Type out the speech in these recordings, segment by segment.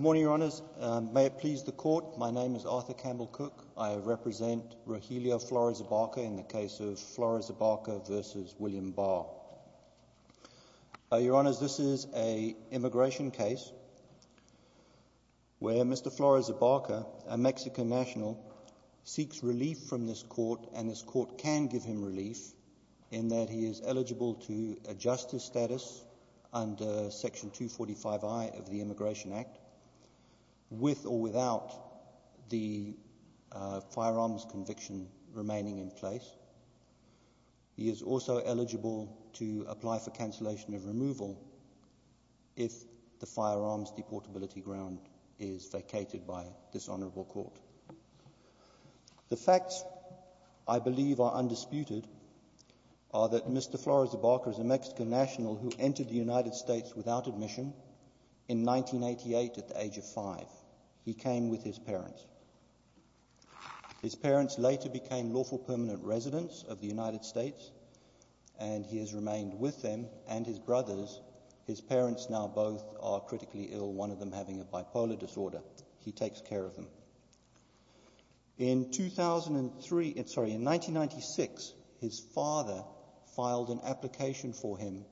Good morning, Your Honors. May it please the Court, my name is Arthur Campbell-Cook. I represent Rogelio Flores-Abarca in the case of Flores-Abarca v. William Barr. Your Honors, this is an immigration case where Mr. Flores-Abarca, a Mexican national, seeks relief from this Court, and this Court can give him relief in that he is eligible to adjust his status under Section 245I of the Immigration Act with or without the firearms conviction remaining in place. He is also eligible to apply for cancellation of removal if the firearms deportability ground is vacated by this Honorable Court. The facts I believe are undisputed are that Mr. Flores-Abarca is a Mexican national who entered the United States without admission in 1988 at the age of five. He came with his parents. His parents later became lawful permanent residents of the United States, and he has remained with them and his brothers. His parents now both are critically ill, one of them having a bipolar disorder. He takes care of them. In 2003, in 1996, his father filed an application for him,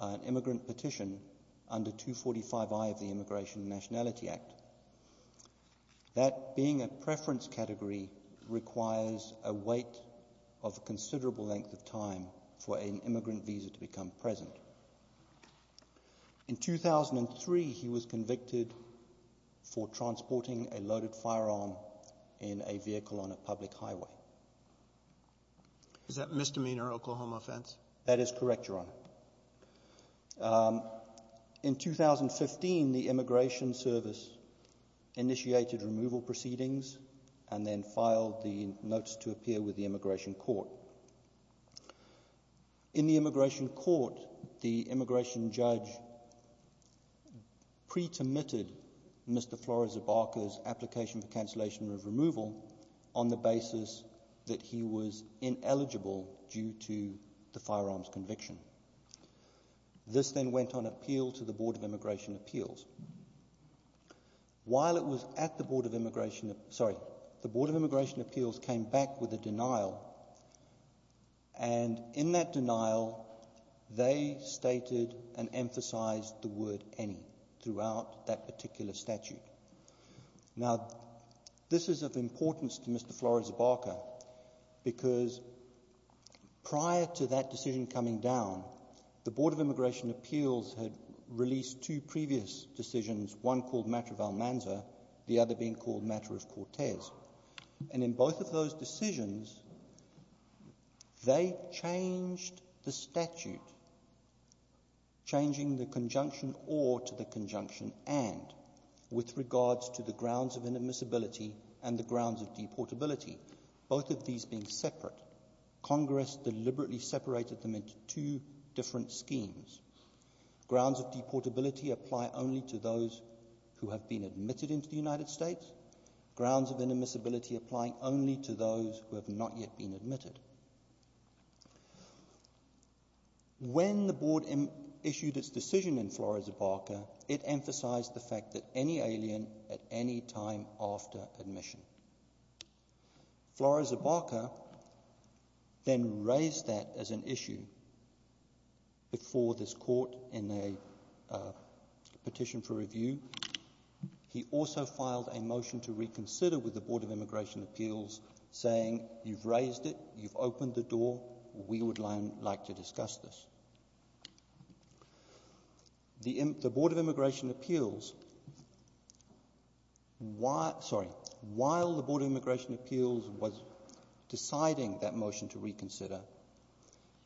an immigrant petition, under 245I of the Immigration and Nationality Act. That being a preference category requires a wait of a considerable length of time for an immigrant visa to become present. In 2003, he was convicted for Is that misdemeanor Oklahoma offense? That is correct, Your Honor. In 2015, the Immigration Service initiated removal proceedings and then filed the notice to appear with the Immigration Court. In the Immigration Court, the Immigration Judge pre-termitted Mr. Flores-Abarca's application for cancellation of removal on the basis that he was ineligible due to the firearms conviction. This then went on appeal to the Board of Immigration Appeals. While it was at the Board of Immigration, sorry, the Board of Immigration Appeals came back with a denial, and in that denial, they stated and emphasized the word any throughout that particular statute. Now, this is of importance to Mr. Flores-Abarca because prior to that decision coming down, the Board of Immigration Appeals had released two previous decisions, one called Matter of Almanza, the other being called Matter of Cortez. In both of those decisions, they changed the statute, changing the conjunction or to the conjunction and, with regards to the grounds of inadmissibility and the grounds of deportability, both of these being separate, Congress deliberately separated them into two different schemes. Grounds of deportability apply only to those who have been admitted into the United States. Grounds of inadmissibility apply only to those who have not yet been admitted. When the Board issued its decision in Flores-Abarca, it emphasized the fact that any alien at any time after admission. Flores-Abarca then raised that as an issue before this court in a petition for review. He also filed a motion to reconsider with the Board of Immigration Appeals. While the Board of Immigration Appeals was deciding that motion to reconsider,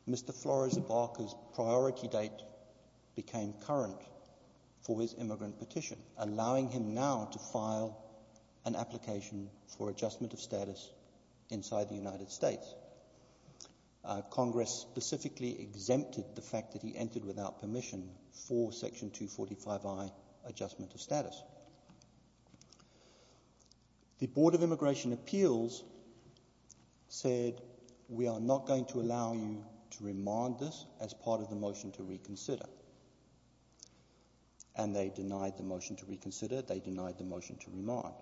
Mr. Flores-Abarca's priority date became current for his immigrant petition, allowing him now to file an application for adjustment of status inside the United States. Congress specifically exempted the fact that he entered without permission for Section 245I, Adjustment of Status. The Board of Immigration Appeals said, we are not going to allow you to reconsider. They denied the motion to remark.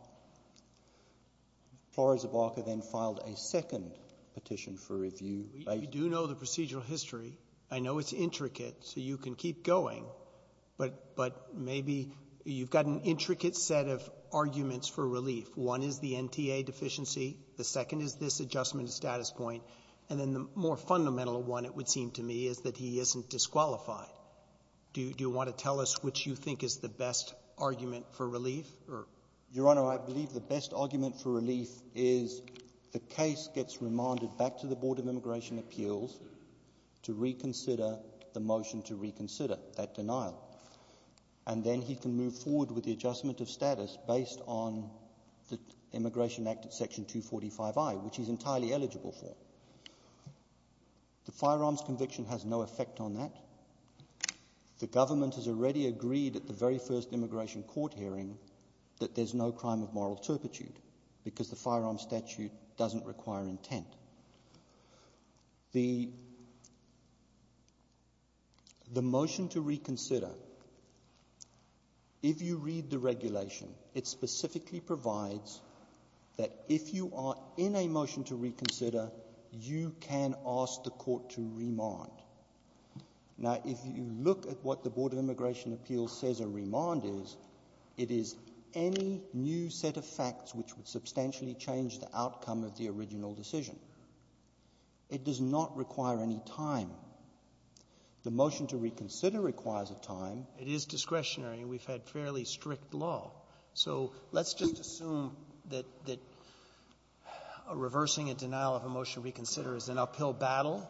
Flores-Abarca then filed a second petition for review. We do know the procedural history. I know it's intricate, so you can keep going. But maybe you've got an intricate set of arguments for relief. One is the NTA deficiency. The second is this adjustment of status point. And then the more fundamental one, it would seem to me, is that he isn't disqualified. Do you want to tell us which you think is the best argument for relief? Your Honor, I believe the best argument for relief is the case gets remanded back to the Board of Immigration Appeals to reconsider the motion to reconsider that denial. And then he can move forward with the adjustment of status based on the Immigration Act at Section 245I, which he's got no effect on that. The government has already agreed at the very first immigration court hearing that there's no crime of moral turpitude, because the firearm statute doesn't require intent. The motion to reconsider, if you read the regulation, it specifically provides that if you are in a motion to reconsider, you can ask the court to remand. Now, if you look at what the Board of Immigration Appeals says a remand is, it is any new set of facts which would substantially change the outcome of the original decision. It does not require any time. The motion to reconsider requires a time. It is discretionary. We've had fairly strict law. So let's just assume that reversing a denial of a motion to reconsider is an uphill battle.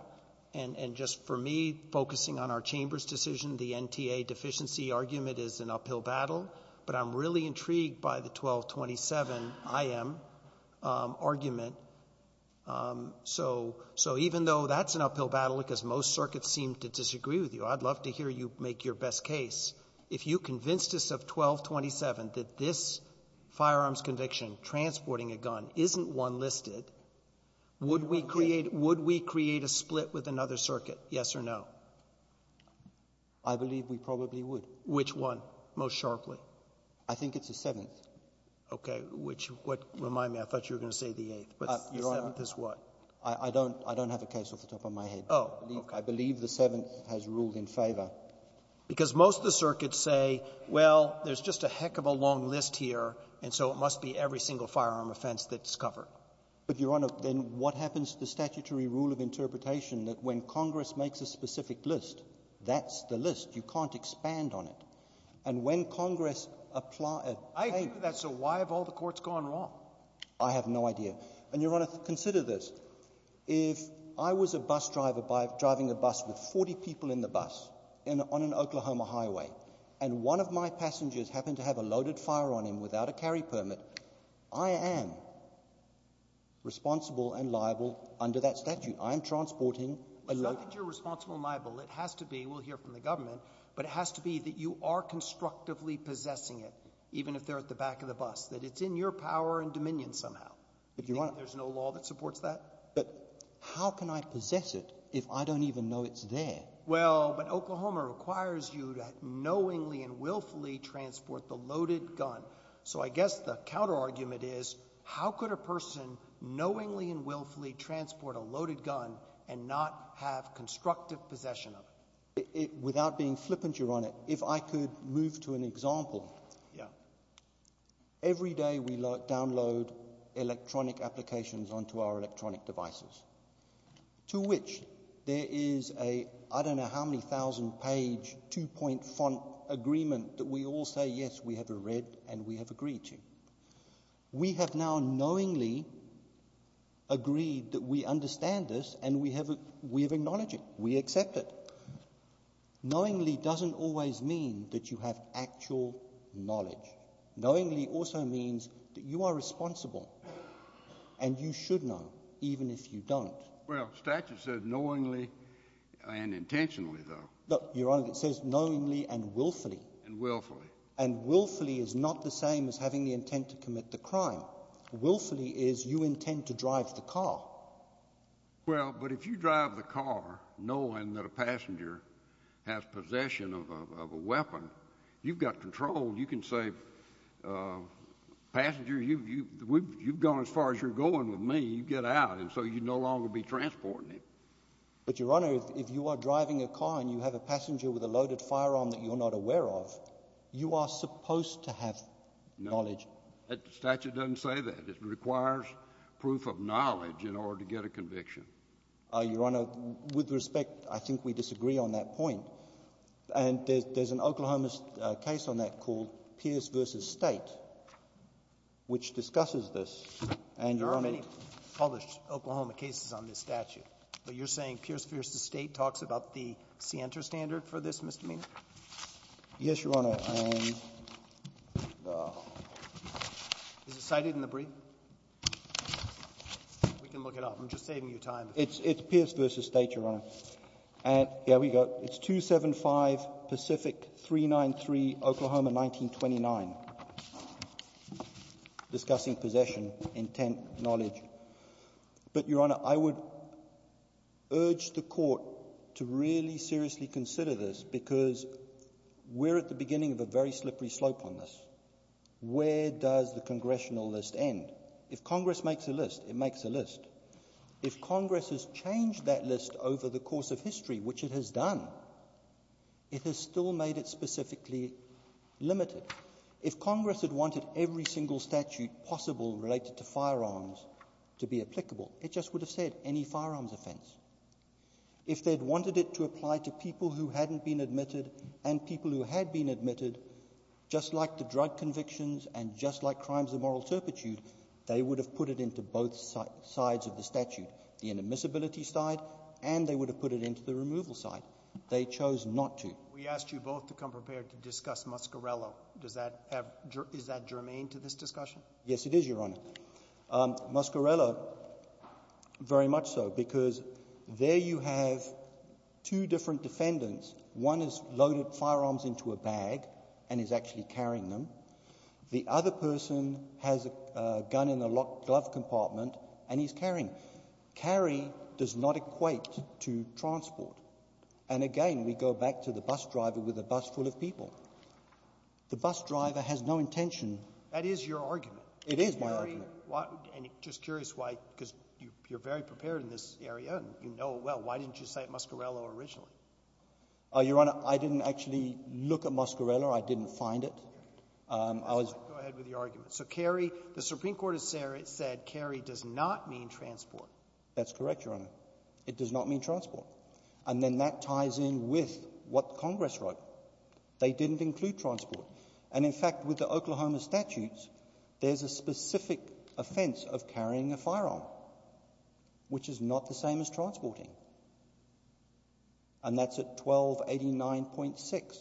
And just for me, focusing on our Chamber's decision, the NTA deficiency argument is an uphill battle. But I'm really intrigued by the 1227 IM argument. So even though that's an uphill battle, because most circuits seem to disagree with you, I'd love to hear you make your best case. If you convinced us of 1227 that this a gun isn't one listed, would we create a split with another circuit, yes or no? I believe we probably would. Which one most sharply? I think it's the Seventh. Okay. Which one? Remind me. I thought you were going to say the Eighth. But the Seventh is what? I don't have a case off the top of my head. Oh. I believe the Seventh has ruled in favor. Because most of the circuits say, well, there's just a heck of a long list here, and so it must be every single firearm offense that's covered. But, Your Honor, then what happens to the statutory rule of interpretation that when Congress makes a specific list, that's the list. You can't expand on it. And when Congress applies... I agree with that. So why have all the courts gone wrong? I have no idea. And, Your Honor, consider this. If I was a bus driver driving a bus with 40 people in the bus on an Oklahoma highway, and one of my passengers happened to have a loaded fire on him without a carry permit, I am responsible and liable under that statute. I am transporting a loaded... It's not that you're responsible and liable. It has to be. We'll hear from the government. But it has to be that you are constructively possessing it, even if they're at the back of the bus. That it's in your power and dominion somehow. But, Your Honor... There's no law that supports that. But how can I possess it if I don't even know it's there? Well, but Oklahoma requires you to knowingly and willfully transport the loaded gun. So I guess the counterargument is, how could a person knowingly and willfully transport a loaded gun and not have constructive possession of it? Without being flippant, Your Honor, if I could move to an example. Every day we download electronic applications onto our electronic devices, to which there is a, I don't know how many thousand page, two point font agreement that we all say, yes, we have read and we have agreed to. We have now knowingly agreed that we understand this and we have acknowledged it. We accept it. Knowingly doesn't always mean that you have actual knowledge. Knowingly also means that you are responsible and you should know, even if you don't. Well, the statute says knowingly and intentionally, though. Look, Your Honor, it says knowingly and willfully. And willfully. And willfully is not the same as having the intent to commit the crime. Willfully is you intend to drive the car. Well, but if you drive the car knowing that a passenger has possession of a weapon, you've got control. You can say, passenger, you've gone as far as you're going with me. You get out, and so you no longer be transporting it. But, Your Honor, if you are driving a car and you have a passenger with a loaded firearm that you're not aware of, you are supposed to have knowledge. That statute doesn't say that. It requires proof of knowledge in order to get a conviction. Your Honor, with respect, I think we disagree on that point. And there's an Oklahoma case on that called Pierce v. State, which discusses this. There aren't many published Oklahoma cases on this statute, but you're saying Pierce v. State talks about the scienter standard for this misdemeanor? Yes, Your Honor. Is it cited in the brief? We can look it up. I'm just saving you time. It's Pierce v. State, Your Honor. And here we go. It's 275 Pacific 393 Oklahoma 1929. Discussing possession, intent, knowledge. But, Your Honor, I would urge the court to really seriously consider this because we're at the beginning of a very slippery slope on this. Where does the congressional list end? If Congress makes a list, it makes a list. If Congress has changed that list over the course of history, which it has done, it has still made it specifically limited. If Congress had wanted every single statute possible related to firearms to be applicable, it just would have said any firearms offense. If they'd wanted it to apply to people who hadn't been admitted and people who had been admitted, just like the drug convictions and just like crimes of moral turpitude, they would have put it into both sides of the statute. The inadmissibility side and they would have put it into the removal side. They chose not to. We asked you both to come prepared to discuss Muscarello. Is that germane to this discussion? Yes, it is, Your Honor. Muscarello, very much so. Because there you have two different defendants. One has loaded firearms into a bag and is actually carrying them. The other person has a gun in a glove compartment and he's carrying. Carry does not equate to transport. And again, we go back to the bus driver with a bus full of people. The bus driver has no intention. That is your argument. It is my argument. And just curious why, because you're very prepared in this area and you know it well. Why didn't you say Muscarello originally? Oh, Your Honor, I didn't actually look at Muscarello. I didn't find it. Go ahead with your argument. So carry, the Supreme Court has said carry does not mean transport. That's correct, Your Honor. It does not mean transport. And then that ties in with what Congress wrote. They didn't include transport. And in fact, with the Oklahoma statutes, there's a specific offense of carrying a firearm, which is not the same as transporting. And that's at 1289.6.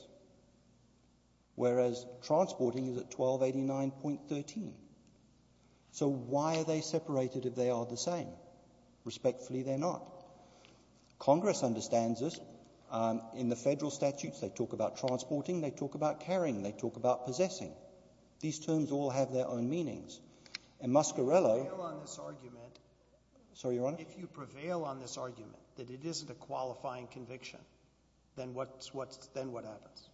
Whereas, transporting is at 1289.13. So why are they separated if they are the same? Respectfully, they're not. Congress understands this. In the federal statutes, they talk about transporting, they talk about carrying, they talk about possessing. These terms all have their own meanings. And Muscarello— If you prevail on this argument— Sorry, Your Honor? If you prevail on this argument, that it isn't a qualifying conviction, then what's—then what happens?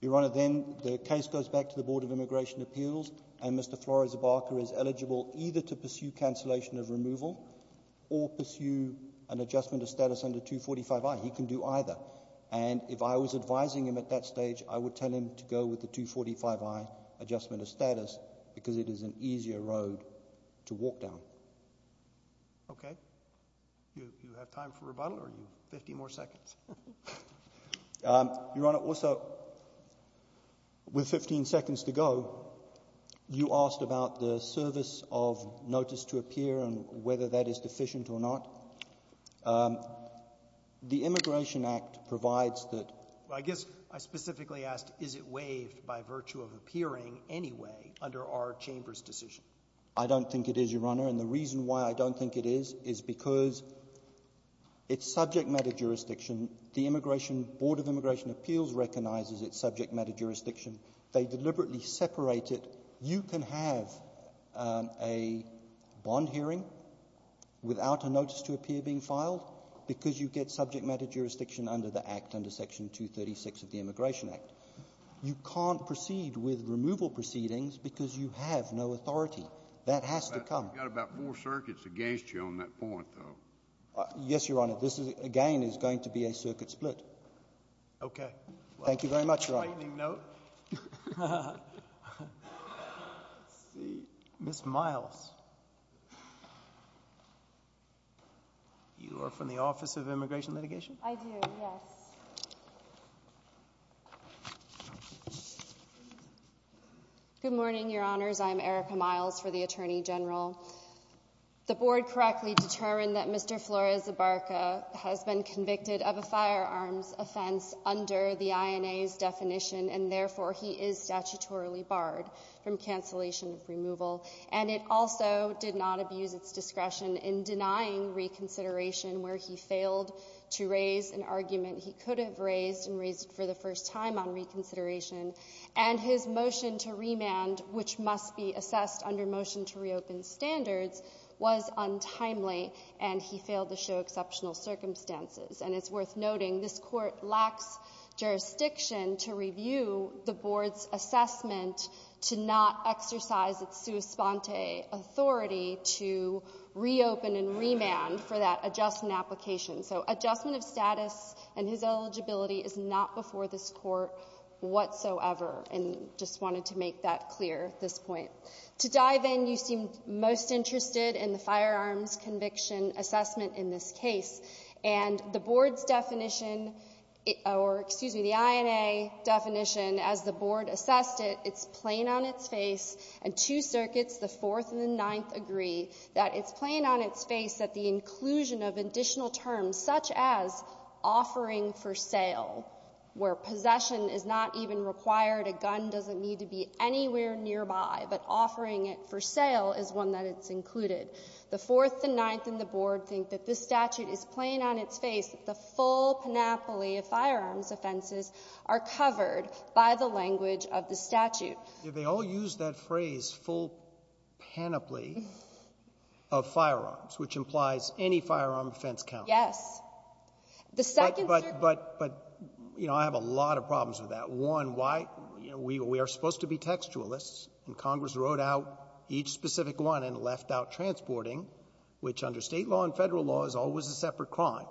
Your Honor, then the case goes back to the Board of Immigration Appeals, and Mr. Flores-Barker is eligible either to pursue cancellation of removal or pursue an adjustment of status under 245I. He can do either. And if I was advising him at that stage, I would tell him to go with the 245I adjustment of status because it is an easier road to walk down. Okay. You have time for rebuttal or 50 more seconds? Your Honor, also, with 15 seconds to go, you asked about the service of notice to appear and whether that is deficient or not. The Immigration Act provides that— I guess I specifically asked, is it waived by virtue of appearing anyway under our chamber's decision? I don't think it is, Your Honor, and the reason why I don't think it is is because it's subject matter jurisdiction. The Immigration—Board of Immigration Appeals recognizes it's subject matter jurisdiction. They deliberately separate it. You can have a bond hearing without a notice to appear being filed because you get subject matter jurisdiction under the Act, under Section 236 of the Immigration Act. You can't proceed with removal proceedings because you have no authority. That has to come. You've got about four circuits against you on that point, though. Yes, Your Honor. This, again, is going to be a circuit split. Okay. Thank you very much, Your Honor. Lightning note. Ms. Miles. You are from the Office of Immigration Litigation? I do, yes. Good morning, Your Honors. I'm Erica Miles for the Attorney General. The Board correctly determined that Mr. Flores-Ebarca has been convicted of a firearms offense under the INA's definition, and therefore he is statutorily barred from cancellation of removal. And it also did not abuse its discretion in denying reconsideration where he failed to raise an argument he could have raised and raised for the first time on reconsideration. And his motion to remand, which must be assessed under motion to reopen standards, was untimely, and he failed to show exceptional circumstances. And it's worth noting this Court lacks jurisdiction to review the Board's assessment to not exercise its sua sponte authority to reopen and remand for that adjustment application. So adjustment of status and his eligibility is not before this Court whatsoever, and just wanted to make that clear at this point. To dive in, you seem most interested in the firearms conviction assessment in this case. And the Board's definition, or excuse me, the INA definition, as the Board assessed it, it's plain on its face, and two circuits, the Fourth and the Ninth, agree that it's plain on its face that the inclusion of additional terms such as offering for sale, where possession is not even required, a gun doesn't need to be anywhere nearby, but offering it for sale is one that it's included. The Fourth, the Ninth, and the Board think that this statute is plain on its face, the full panoply of firearms offenses are covered by the language of the statute. They all use that phrase, full panoply of firearms, which implies any firearm offense counts. Yes. The second circuit — But, you know, I have a lot of problems with that. One, why — you know, we are supposed to be textualists, and Congress wrote out each specific one and left out transporting, which under State law and Federal law is always a separate crime.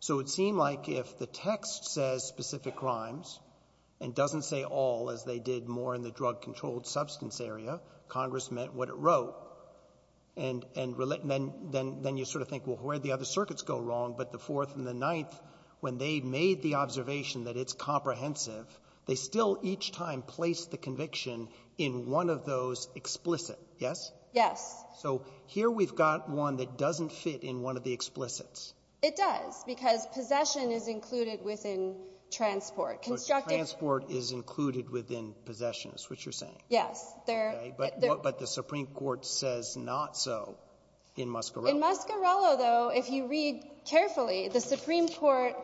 So it seemed like if the text says specific crimes and doesn't say all, as they did more in the drug-controlled substance area, Congress meant what it wrote. And then you sort of think, well, where did the other circuits go wrong? But the Fourth and the Ninth, when they made the observation that it's comprehensive, they still each time placed the conviction in one of those explicit. Yes? Yes. So here we've got one that doesn't fit in one of the explicits. It does, because possession is included within transport. So transport is included within possessions, which you're saying? Yes. Okay. But the Supreme Court says not so in Muscarello. In Muscarello, though, if you read carefully, the Supreme Court,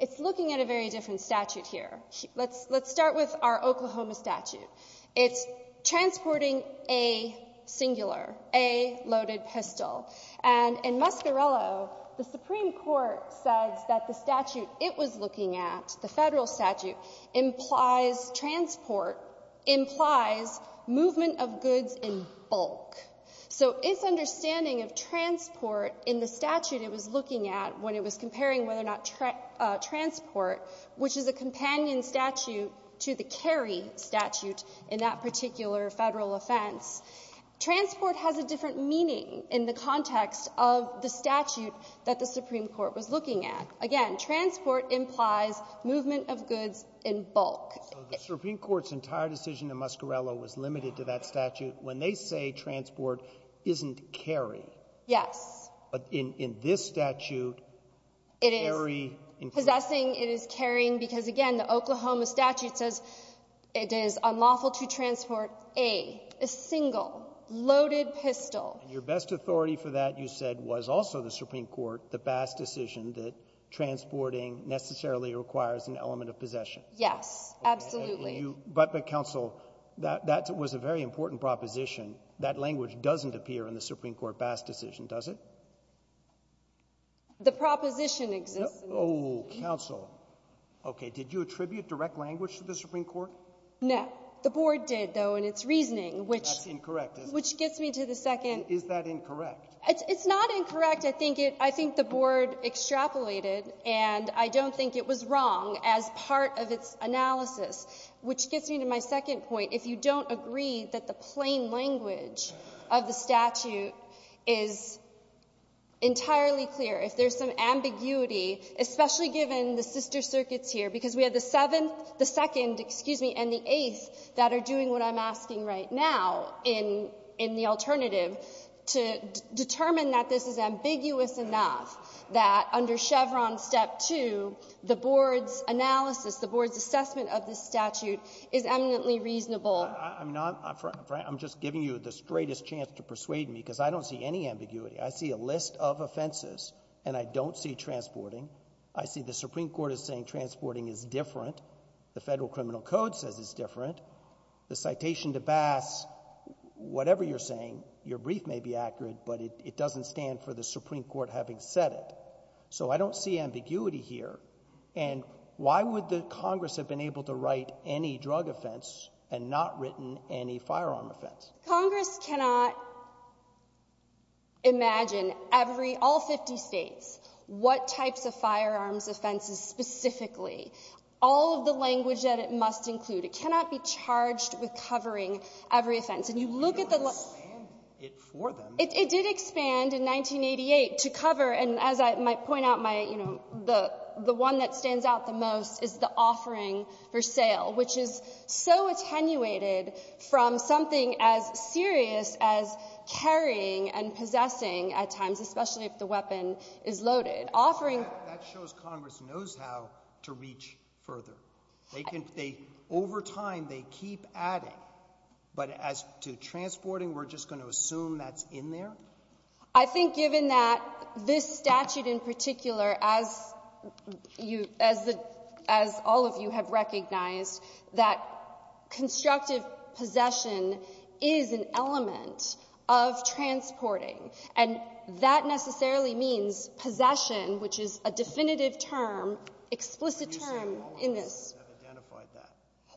it's looking at a very different statute here. Let's start with our Oklahoma statute. It's transporting a singular, a loaded pistol. And in Muscarello, the Supreme Court says that the statute it was looking at, the Federal statute, implies transport, implies movement of goods in bulk. So its understanding of transport in the statute it was looking at when it was comparing whether or not transport, which is a companion statute to the carry statute in that particular Federal offense, transport has a different meaning in the context of the statute that the Supreme Court was looking at. Again, transport implies movement of goods in bulk. So the Supreme Court's entire decision in Muscarello was limited to that statute when they say transport isn't carry. Yes. But in this statute, carry includes— Possessing is carrying because, again, the Oklahoma statute says it is unlawful to transport a single loaded pistol. Your best authority for that, you said, was also the Supreme Court, the Bass decision that transporting necessarily requires an element of possession. Yes. Absolutely. But, Counsel, that was a very important proposition. That language doesn't appear in the Supreme Court Bass decision, does it? The proposition exists. Oh, Counsel. Okay. Did you attribute direct language to the Supreme Court? No. The board did, though, in its reasoning, which— That's incorrect. Which gets me to the second— Is that incorrect? It's not incorrect. I think the board extrapolated, and I don't think it was wrong as part of its analysis, which gets me to my second point. If you don't agree that the plain language of the statute is entirely clear, if there's some ambiguity, especially given the sister circuits here, because we have the Seventh, the Second, excuse me, and the Eighth that are doing what I'm asking right now in the to determine that this is ambiguous enough that under Chevron Step 2, the board's analysis, the board's assessment of this statute is eminently reasonable. I'm not—I'm just giving you the straightest chance to persuade me, because I don't see any ambiguity. I see a list of offenses, and I don't see transporting. I see the Supreme Court is saying transporting is different. The Federal Criminal Code says it's different. The citation to Bass, whatever you're saying, your brief may be accurate, but it doesn't stand for the Supreme Court having said it. So I don't see ambiguity here. And why would the Congress have been able to write any drug offense and not written any firearm offense? Congress cannot imagine every—all 50 states, what types of firearms offenses specifically, all of the language that it must include. It cannot be charged with covering every offense. And you look at the— It didn't expand it for them. It did expand in 1988 to cover, and as I might point out, my, you know, the one that stands out the most is the offering for sale, which is so attenuated from something as serious as carrying and possessing at times, especially if the weapon is loaded. Offering— That shows Congress knows how to reach further. They can — over time, they keep adding. But as to transporting, we're just going to assume that's in there? I think given that this statute in particular, as you — as all of you have recognized, that constructive possession is an element of transporting. And that necessarily means possession, which is a definitive term, explicit term in this case. I've identified that.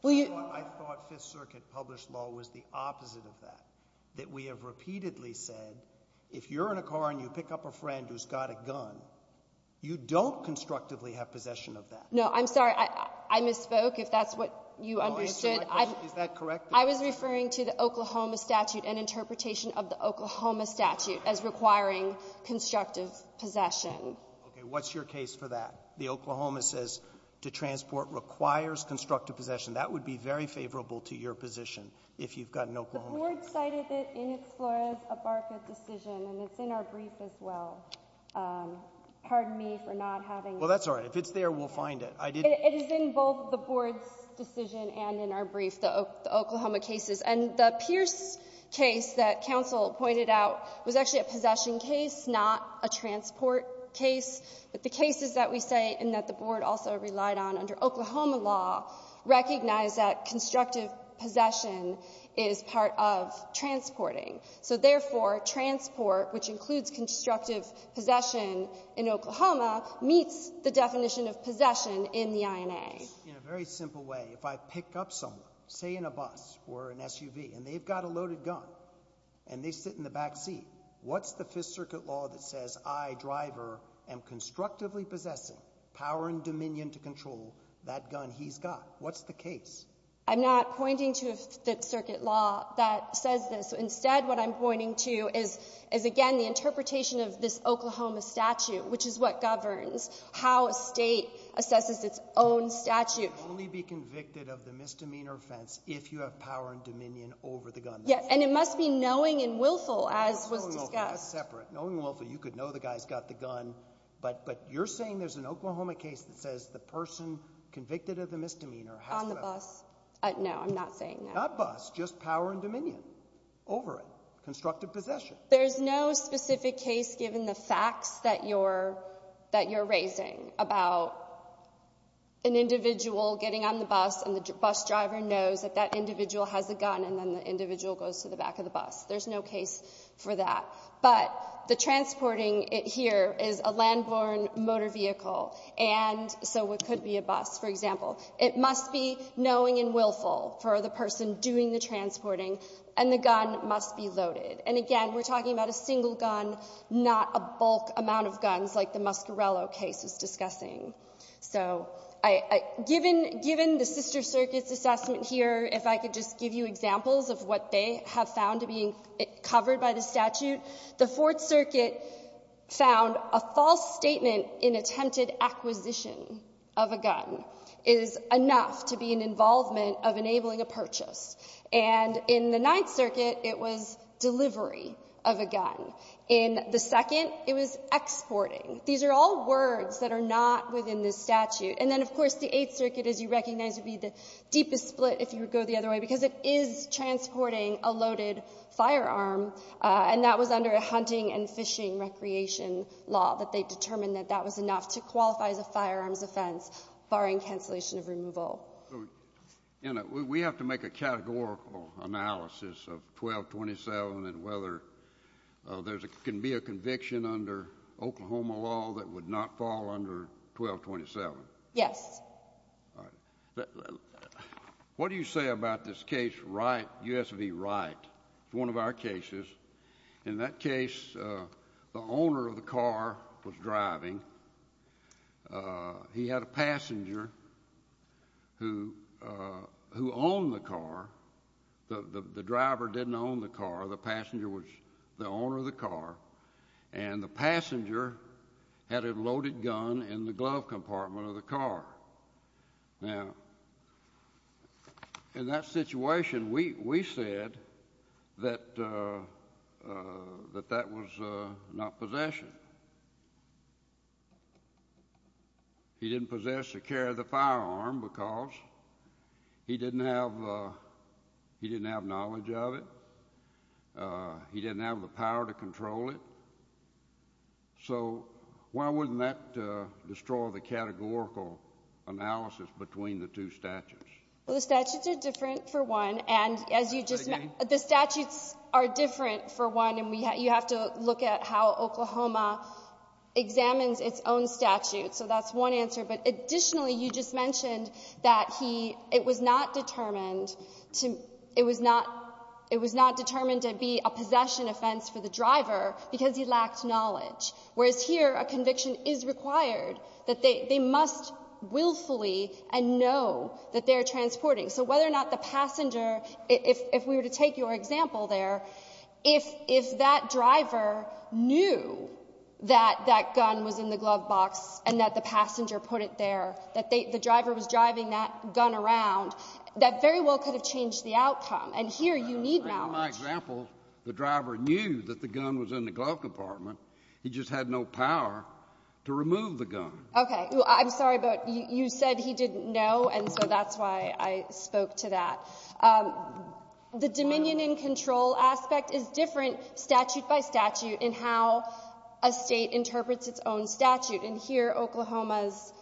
Well, you— I thought Fifth Circuit published law was the opposite of that, that we have repeatedly said, if you're in a car and you pick up a friend who's got a gun, you don't constructively have possession of that. No. I'm sorry. I misspoke, if that's what you understood. Is that correct? I was referring to the Oklahoma statute and interpretation of the Oklahoma statute as requiring constructive possession. Okay. What's your case for that? The Oklahoma says to transport requires constructive possession. That would be very favorable to your position if you've got an Oklahoma case. The Board cited it in its Flores-Abarca decision, and it's in our brief as well. Pardon me for not having it. Well, that's all right. If it's there, we'll find it. It is in both the Board's decision and in our brief, the Oklahoma cases. And the Pierce case that counsel pointed out was actually a possession case, not a transport case. But the cases that we say and that the Board also relied on under Oklahoma law recognize that constructive possession is part of transporting. So therefore, transport, which includes constructive possession in Oklahoma, meets the definition of possession in the INA. In a very simple way, if I pick up someone, say in a bus or an SUV, and they've got a loaded gun, and they sit in the back seat, what's the Fifth Circuit law that says I, the driver, am constructively possessing power and dominion to control that gun he's got? What's the case? I'm not pointing to a Fifth Circuit law that says this. Instead, what I'm pointing to is, again, the interpretation of this Oklahoma statute, which is what governs how a state assesses its own statute. You can only be convicted of the misdemeanor offense if you have power and dominion over the gun. And it must be knowing and willful, as was discussed. Knowing and willful, that's separate. But you're saying there's an Oklahoma case that says the person convicted of the misdemeanor has to have... On the bus. No, I'm not saying that. Not bus. Just power and dominion over it. Constructive possession. There's no specific case, given the facts that you're raising, about an individual getting on the bus, and the bus driver knows that that individual has a gun, and then the individual goes to the back of the bus. There's no case for that. But the transporting here is a land-borne motor vehicle, and so it could be a bus, for example. It must be knowing and willful for the person doing the transporting, and the gun must be loaded. And again, we're talking about a single gun, not a bulk amount of guns like the Muscarello case is discussing. So given the Sister Circuit's assessment here, if I could just give you examples of what they have found being covered by the statute. The Fourth Circuit found a false statement in attempted acquisition of a gun is enough to be an involvement of enabling a purchase. And in the Ninth Circuit, it was delivery of a gun. In the second, it was exporting. These are all words that are not within the statute. And then, of course, the Eighth Circuit, as you recognize, would be the deepest split, if you would go the other way, because it is transporting a loaded firearm, and that was under a hunting and fishing recreation law that they determined that that was enough to qualify as a firearms offense, barring cancellation of removal. So, you know, we have to make a categorical analysis of 1227 and whether there can be a conviction under Oklahoma law that would not fall under 1227. Yes. All right. What do you say about this case, Wright, U.S. v. Wright? It's one of our cases. In that case, the owner of the car was driving. He had a passenger who owned the car. The driver didn't own the car. The passenger was the owner of the car. And the passenger had a loaded gun in the glove compartment of the car. Now, in that situation, we said that that was not possession. He didn't possess or carry the firearm because he didn't have knowledge of it. He didn't have the power to control it. So why wouldn't that destroy the categorical analysis between the two statutes? Well, the statutes are different, for one. And as you just said, the statutes are different, for one. And you have to look at how Oklahoma examines its own statute. So that's one answer. But additionally, you just mentioned that it was not determined to be a possession offense for the driver because he lacked knowledge, whereas here a conviction is required, that they must willfully and know that they're transporting. So whether or not the passenger, if we were to take your example there, if that driver knew that that gun was in the glove box and that the passenger put it there, that the driver was driving that gun around, that very well could have changed the outcome. And here you need knowledge. In my example, the driver knew that the gun was in the glove compartment. He just had no power to remove the gun. Okay. I'm sorry, but you said he didn't know, and so that's why I spoke to that. The dominion and control aspect is different statute by statute in how a state interprets its own statute. And here, Oklahoma's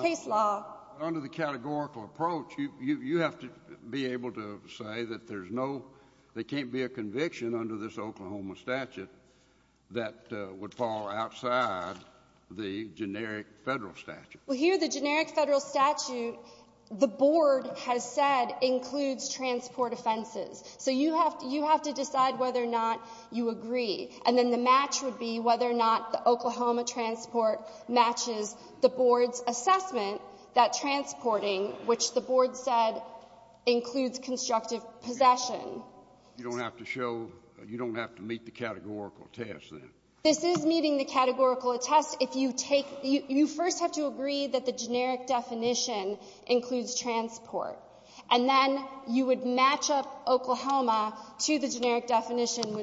case law— under this Oklahoma statute, that would fall outside the generic Federal statute. Well, here, the generic Federal statute, the board has said includes transport offenses. So you have to decide whether or not you agree. And then the match would be whether or not the Oklahoma transport matches the board's assessment that transporting, which the board said includes constructive possession. You don't have to show — you don't have to meet the categorical test, then? This is meeting the categorical test if you take — you first have to agree that the generic definition includes transport. And then you would match up Oklahoma to the generic definition,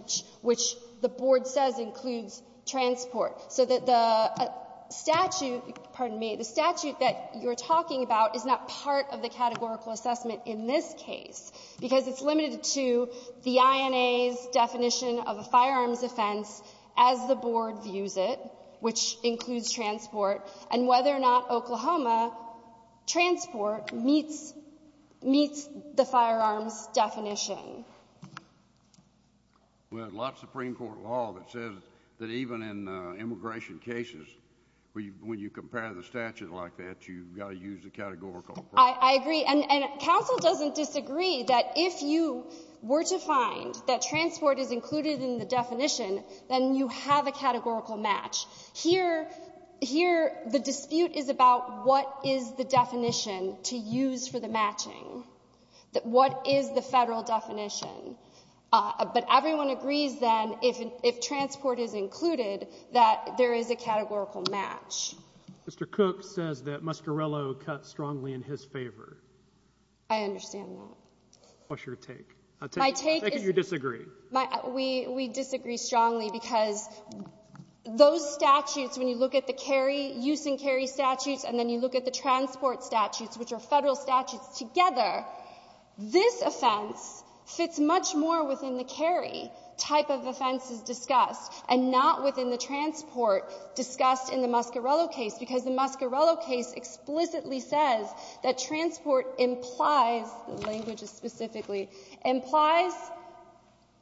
which the board says includes transport, so that the statute — pardon me — the statute that you're talking about is not part of the categorical assessment in this case because it's the INA's definition of a firearms offense as the board views it, which includes transport, and whether or not Oklahoma transport meets the firearms definition. We have lots of Supreme Court law that says that even in immigration cases, when you compare the statute like that, you've got to use the categorical approach. I agree. And counsel doesn't disagree that if you were to find that transport is included in the definition, then you have a categorical match. Here, the dispute is about what is the definition to use for the matching. What is the Federal definition? But everyone agrees, then, if transport is included, that there is a categorical match. Mr. Cook says that Muscarello cut strongly in his favor. I understand that. What's your take? My take is — I think you disagree. We disagree strongly because those statutes, when you look at the carry — use and carry statutes, and then you look at the transport statutes, which are Federal statutes together, this offense fits much more within the carry type of offenses discussed, and not within the transport discussed in the Muscarello case, because the Muscarello case explicitly says that transport implies — the language is specifically — implies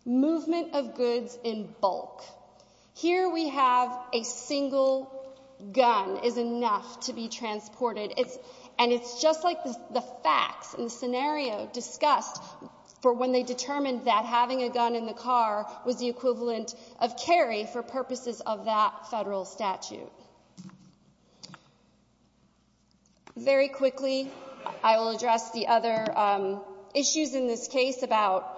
movement of goods in bulk. Here we have a single gun is enough to be transported, and it's just like the facts and the scenario discussed for when they determined that having a gun in the car was the equivalent of carry for purposes of that Federal statute. Very quickly, I will address the other issues in this case about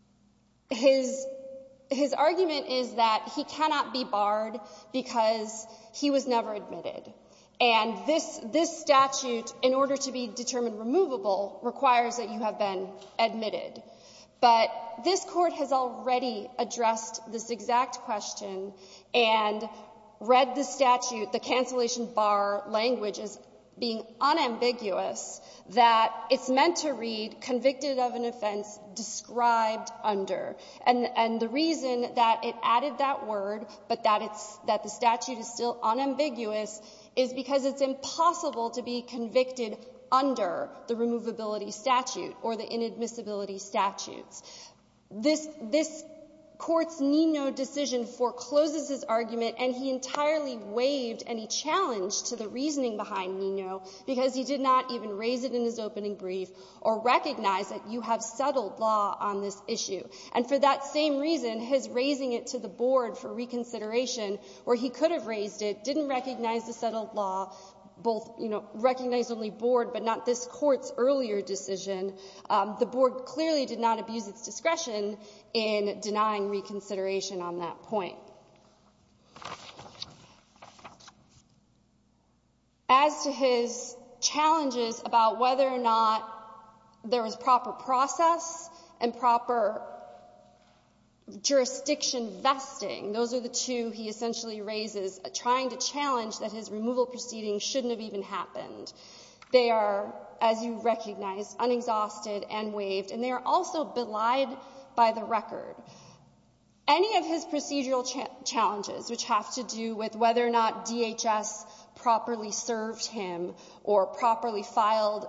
— his argument is that he cannot be barred because he was never admitted, and this statute, in order to be determined removable, requires that you have been admitted. But this Court has already addressed this exact question and read the statute, the cancellation bar language as being unambiguous, that it's meant to read convicted of an offense described under. And the reason that it added that word, but that it's — that the statute is still unambiguous, is because it's impossible to be convicted under the removability statute or the inadmissibility statutes. This — this Court's Nino decision forecloses his argument, and he entirely waived any challenge to the reasoning behind Nino because he did not even raise it in his opening brief or recognize that you have settled law on this issue. And for that same reason, his raising it to the Board for reconsideration, where he could have raised it, didn't recognize the settled law, both — you know, recognized only Board, but not this Court's earlier decision. The Board clearly did not abuse its discretion in denying reconsideration on that point. As to his challenges about whether or not there was proper process and proper jurisdiction vesting, those are the two he essentially raises, trying to challenge that his removal proceedings shouldn't have even happened. They are, as you recognize, unexhausted and waived. And they are also belied by the record. Any of his procedural challenges, which have to do with whether or not DHS properly served him or properly filed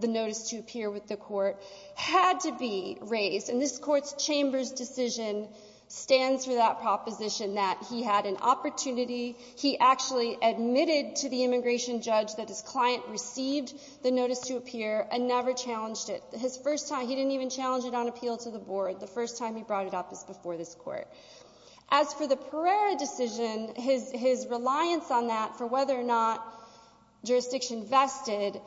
the notice to appear with the Court, had to be raised. And this Court's Chambers decision stands for that proposition that he had an opportunity. He actually admitted to the immigration judge that his client received the notice to appear and never challenged it. His first time — he didn't even challenge it on appeal to the Board. The first time he brought it up was before this Court. As for the Pereira decision, his reliance on that for whether or not jurisdiction vested,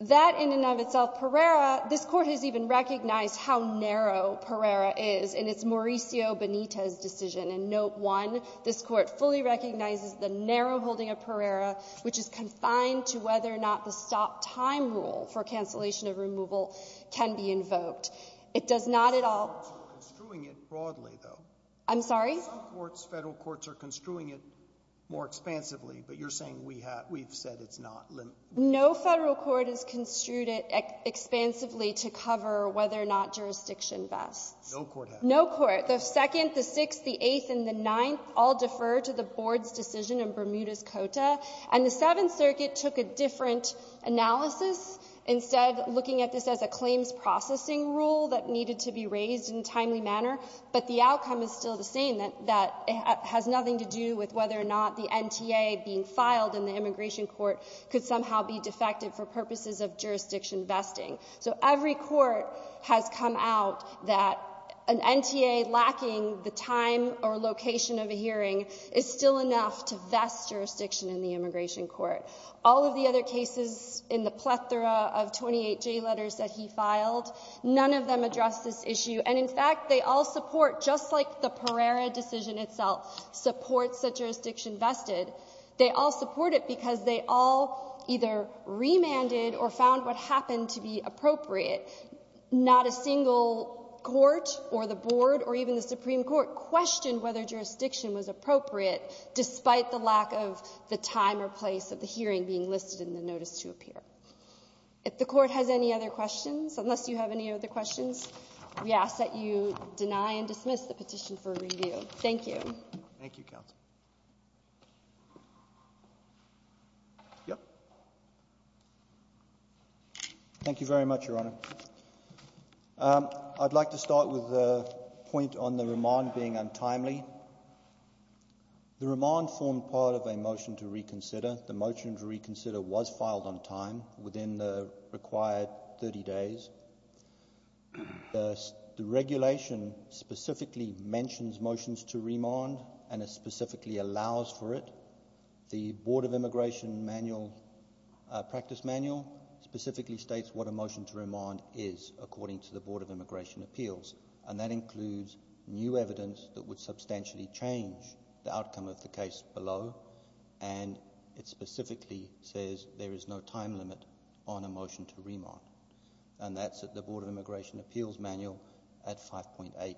that in and of itself — Pereira — this Court has even recognized how narrow Pereira is in its Mauricio Benitez decision. And Note 1, this Court fully recognizes the narrow holding of Pereira, which is confined to whether or not the stop-time rule for cancellation of removal can be invoked. It does not at all — Roberts are construing it broadly, though. I'm sorry? Some courts, Federal courts, are construing it more expansively. But you're saying we have — we've said it's not limited. No Federal court has construed it expansively to cover whether or not jurisdiction vests. No court has. No court. The Second, the Sixth, the Eighth, and the Ninth all defer to the Board's decision in Bermuda's Cota. And the Seventh Circuit took a different analysis, instead looking at this as a claims processing rule that needed to be raised in a timely manner. But the outcome is still the same. That has nothing to do with whether or not the NTA being filed in the immigration court could somehow be defected for purposes of jurisdiction vesting. So every court has come out that an NTA lacking the time or location of a hearing is still enough to vest jurisdiction in the immigration court. All of the other cases in the plethora of 28J letters that he filed, none of them addressed this issue. And, in fact, they all support, just like the Pereira decision itself supports the jurisdiction vested, they all support it because they all either remanded or found what happened to be appropriate. Not a single court or the Board or even the Supreme Court questioned whether jurisdiction was appropriate despite the lack of the time or place of the hearing being listed in the notice to appear. If the Court has any other questions, unless you have any other questions, we ask that you deny and dismiss the petition for review. Thank you. Thank you, counsel. Yep. Thank you very much, Your Honor. I'd like to start with a point on the remand being untimely. The remand formed part of a motion to reconsider. The motion to reconsider was filed on time within the required 30 days. The regulation specifically mentions motions to remand, and it specifically allows for it. The Board of Immigration Manual, Practice Manual, specifically states what a motion to remand is according to the Board of Immigration Appeals. And that includes new evidence that would substantially change the outcome of the case below. And it specifically says there is no time limit on a motion to remand. And that's at the Board of Immigration Appeals Manual at 5.8.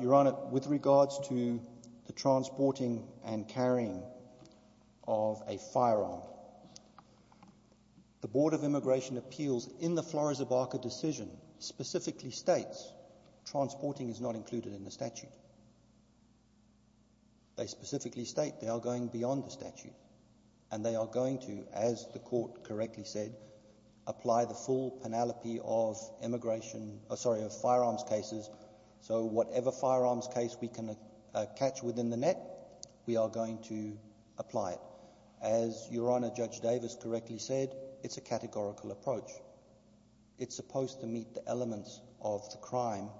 Your Honor, with regards to the transporting and carrying of a firearm, the Board of Immigration Appeals in the Flores-O'Barker decision specifically states transporting is not included in the statute. They specifically state they are going beyond the statute, and they are going to, as the Court correctly said, apply the full penalty of immigration — sorry, of firearms cases. So whatever firearms case we can catch within the net, we are going to apply it. As Your Honor, Judge Davis correctly said, it's a categorical approach. It's supposed to meet the elements of the crime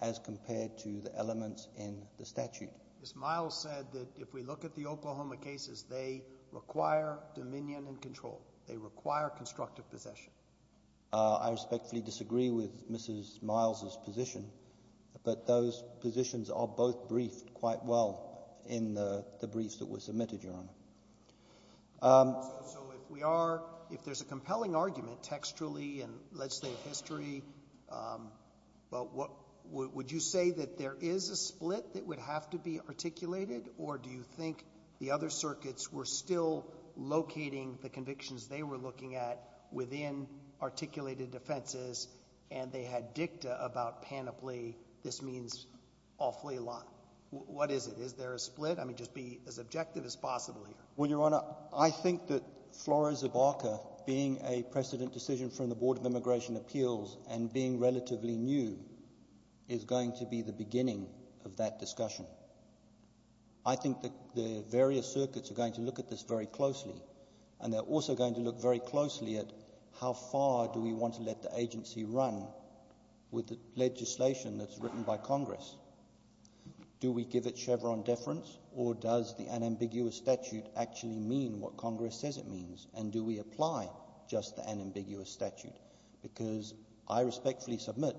as compared to the elements in the statute. Ms. Miles said that if we look at the Oklahoma cases, they require dominion and control. They require constructive possession. I respectfully disagree with Mrs. Miles's position, but those positions are both briefed quite well in the briefs that were submitted, Your Honor. So if we are — if there's a compelling argument textually and, let's say, of or do you think the other circuits were still locating the convictions they were looking at within articulated defenses, and they had dicta about panoply, this means awfully a lot. What is it? Is there a split? I mean, just be as objective as possible here. Well, Your Honor, I think that Flores-O'Barker, being a precedent decision from the Board of Immigration Appeals and being relatively new, is going to be the beginning of that discussion. I think that the various circuits are going to look at this very closely, and they're also going to look very closely at how far do we want to let the agency run with the legislation that's written by Congress? Do we give it Chevron deference, or does the unambiguous statute actually mean what Congress says it means? And do we apply just the unambiguous statute? Because I respectfully submit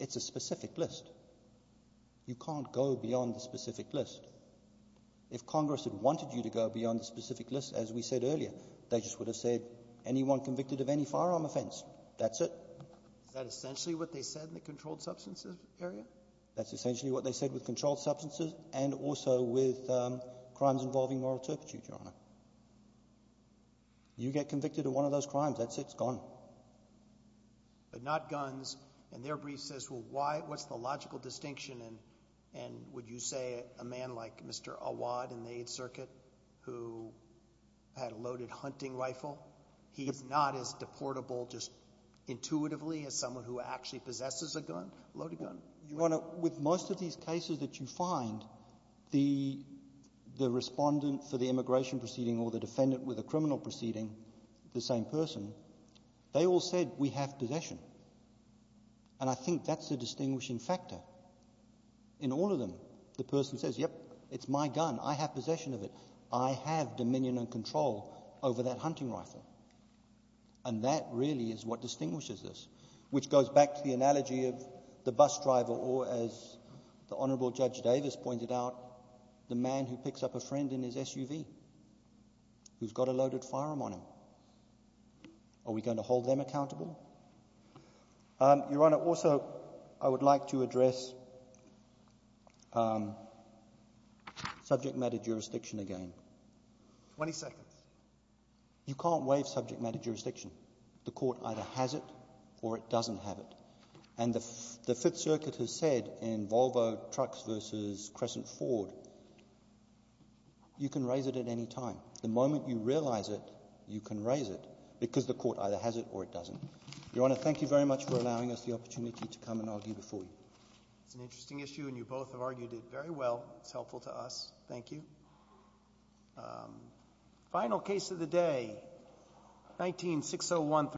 it's a specific list. You can't go beyond the specific list. If Congress had wanted you to go beyond the specific list, as we said earlier, they just would have said anyone convicted of any firearm offense. That's it. Is that essentially what they said in the controlled substances area? That's essentially what they said with controlled substances and also with crimes involving moral turpitude, Your Honor. You get convicted of one of those crimes, that's it, it's gone. But not guns. And their brief says, well, why, what's the logical distinction? And would you say a man like Mr. Awad in the Eighth Circuit who had a loaded hunting rifle, he's not as deportable just intuitively as someone who actually possesses a gun, a loaded gun? Your Honor, with most of these cases that you find, the respondent for the immigration proceeding or the defendant with a criminal proceeding, the same person, they all said, we have possession. And I think that's the distinguishing factor. In all of them, the person says, yep, it's my gun, I have possession of it. I have dominion and control over that hunting rifle. And that really is what distinguishes this, which goes back to the analogy of the bus driver or, as the Honorable Judge Davis pointed out, the man who picks up a friend in his SUV who's got a loaded firearm on him. Are we going to hold them accountable? Your Honor, also, I would like to address subject matter jurisdiction again. 20 seconds. You can't waive subject matter jurisdiction. The court either has it or it doesn't have it. And the Fifth Circuit has said in Volvo Trucks versus Crescent Ford, you can raise it at any time. The moment you realize it, you can raise it, because the court either has it or it doesn't. Your Honor, thank you very much for allowing us the opportunity to come and argue before you. It's an interesting issue, and you both have argued it very well. It's helpful to us. Thank you. Final case of the day, 19-601-3215.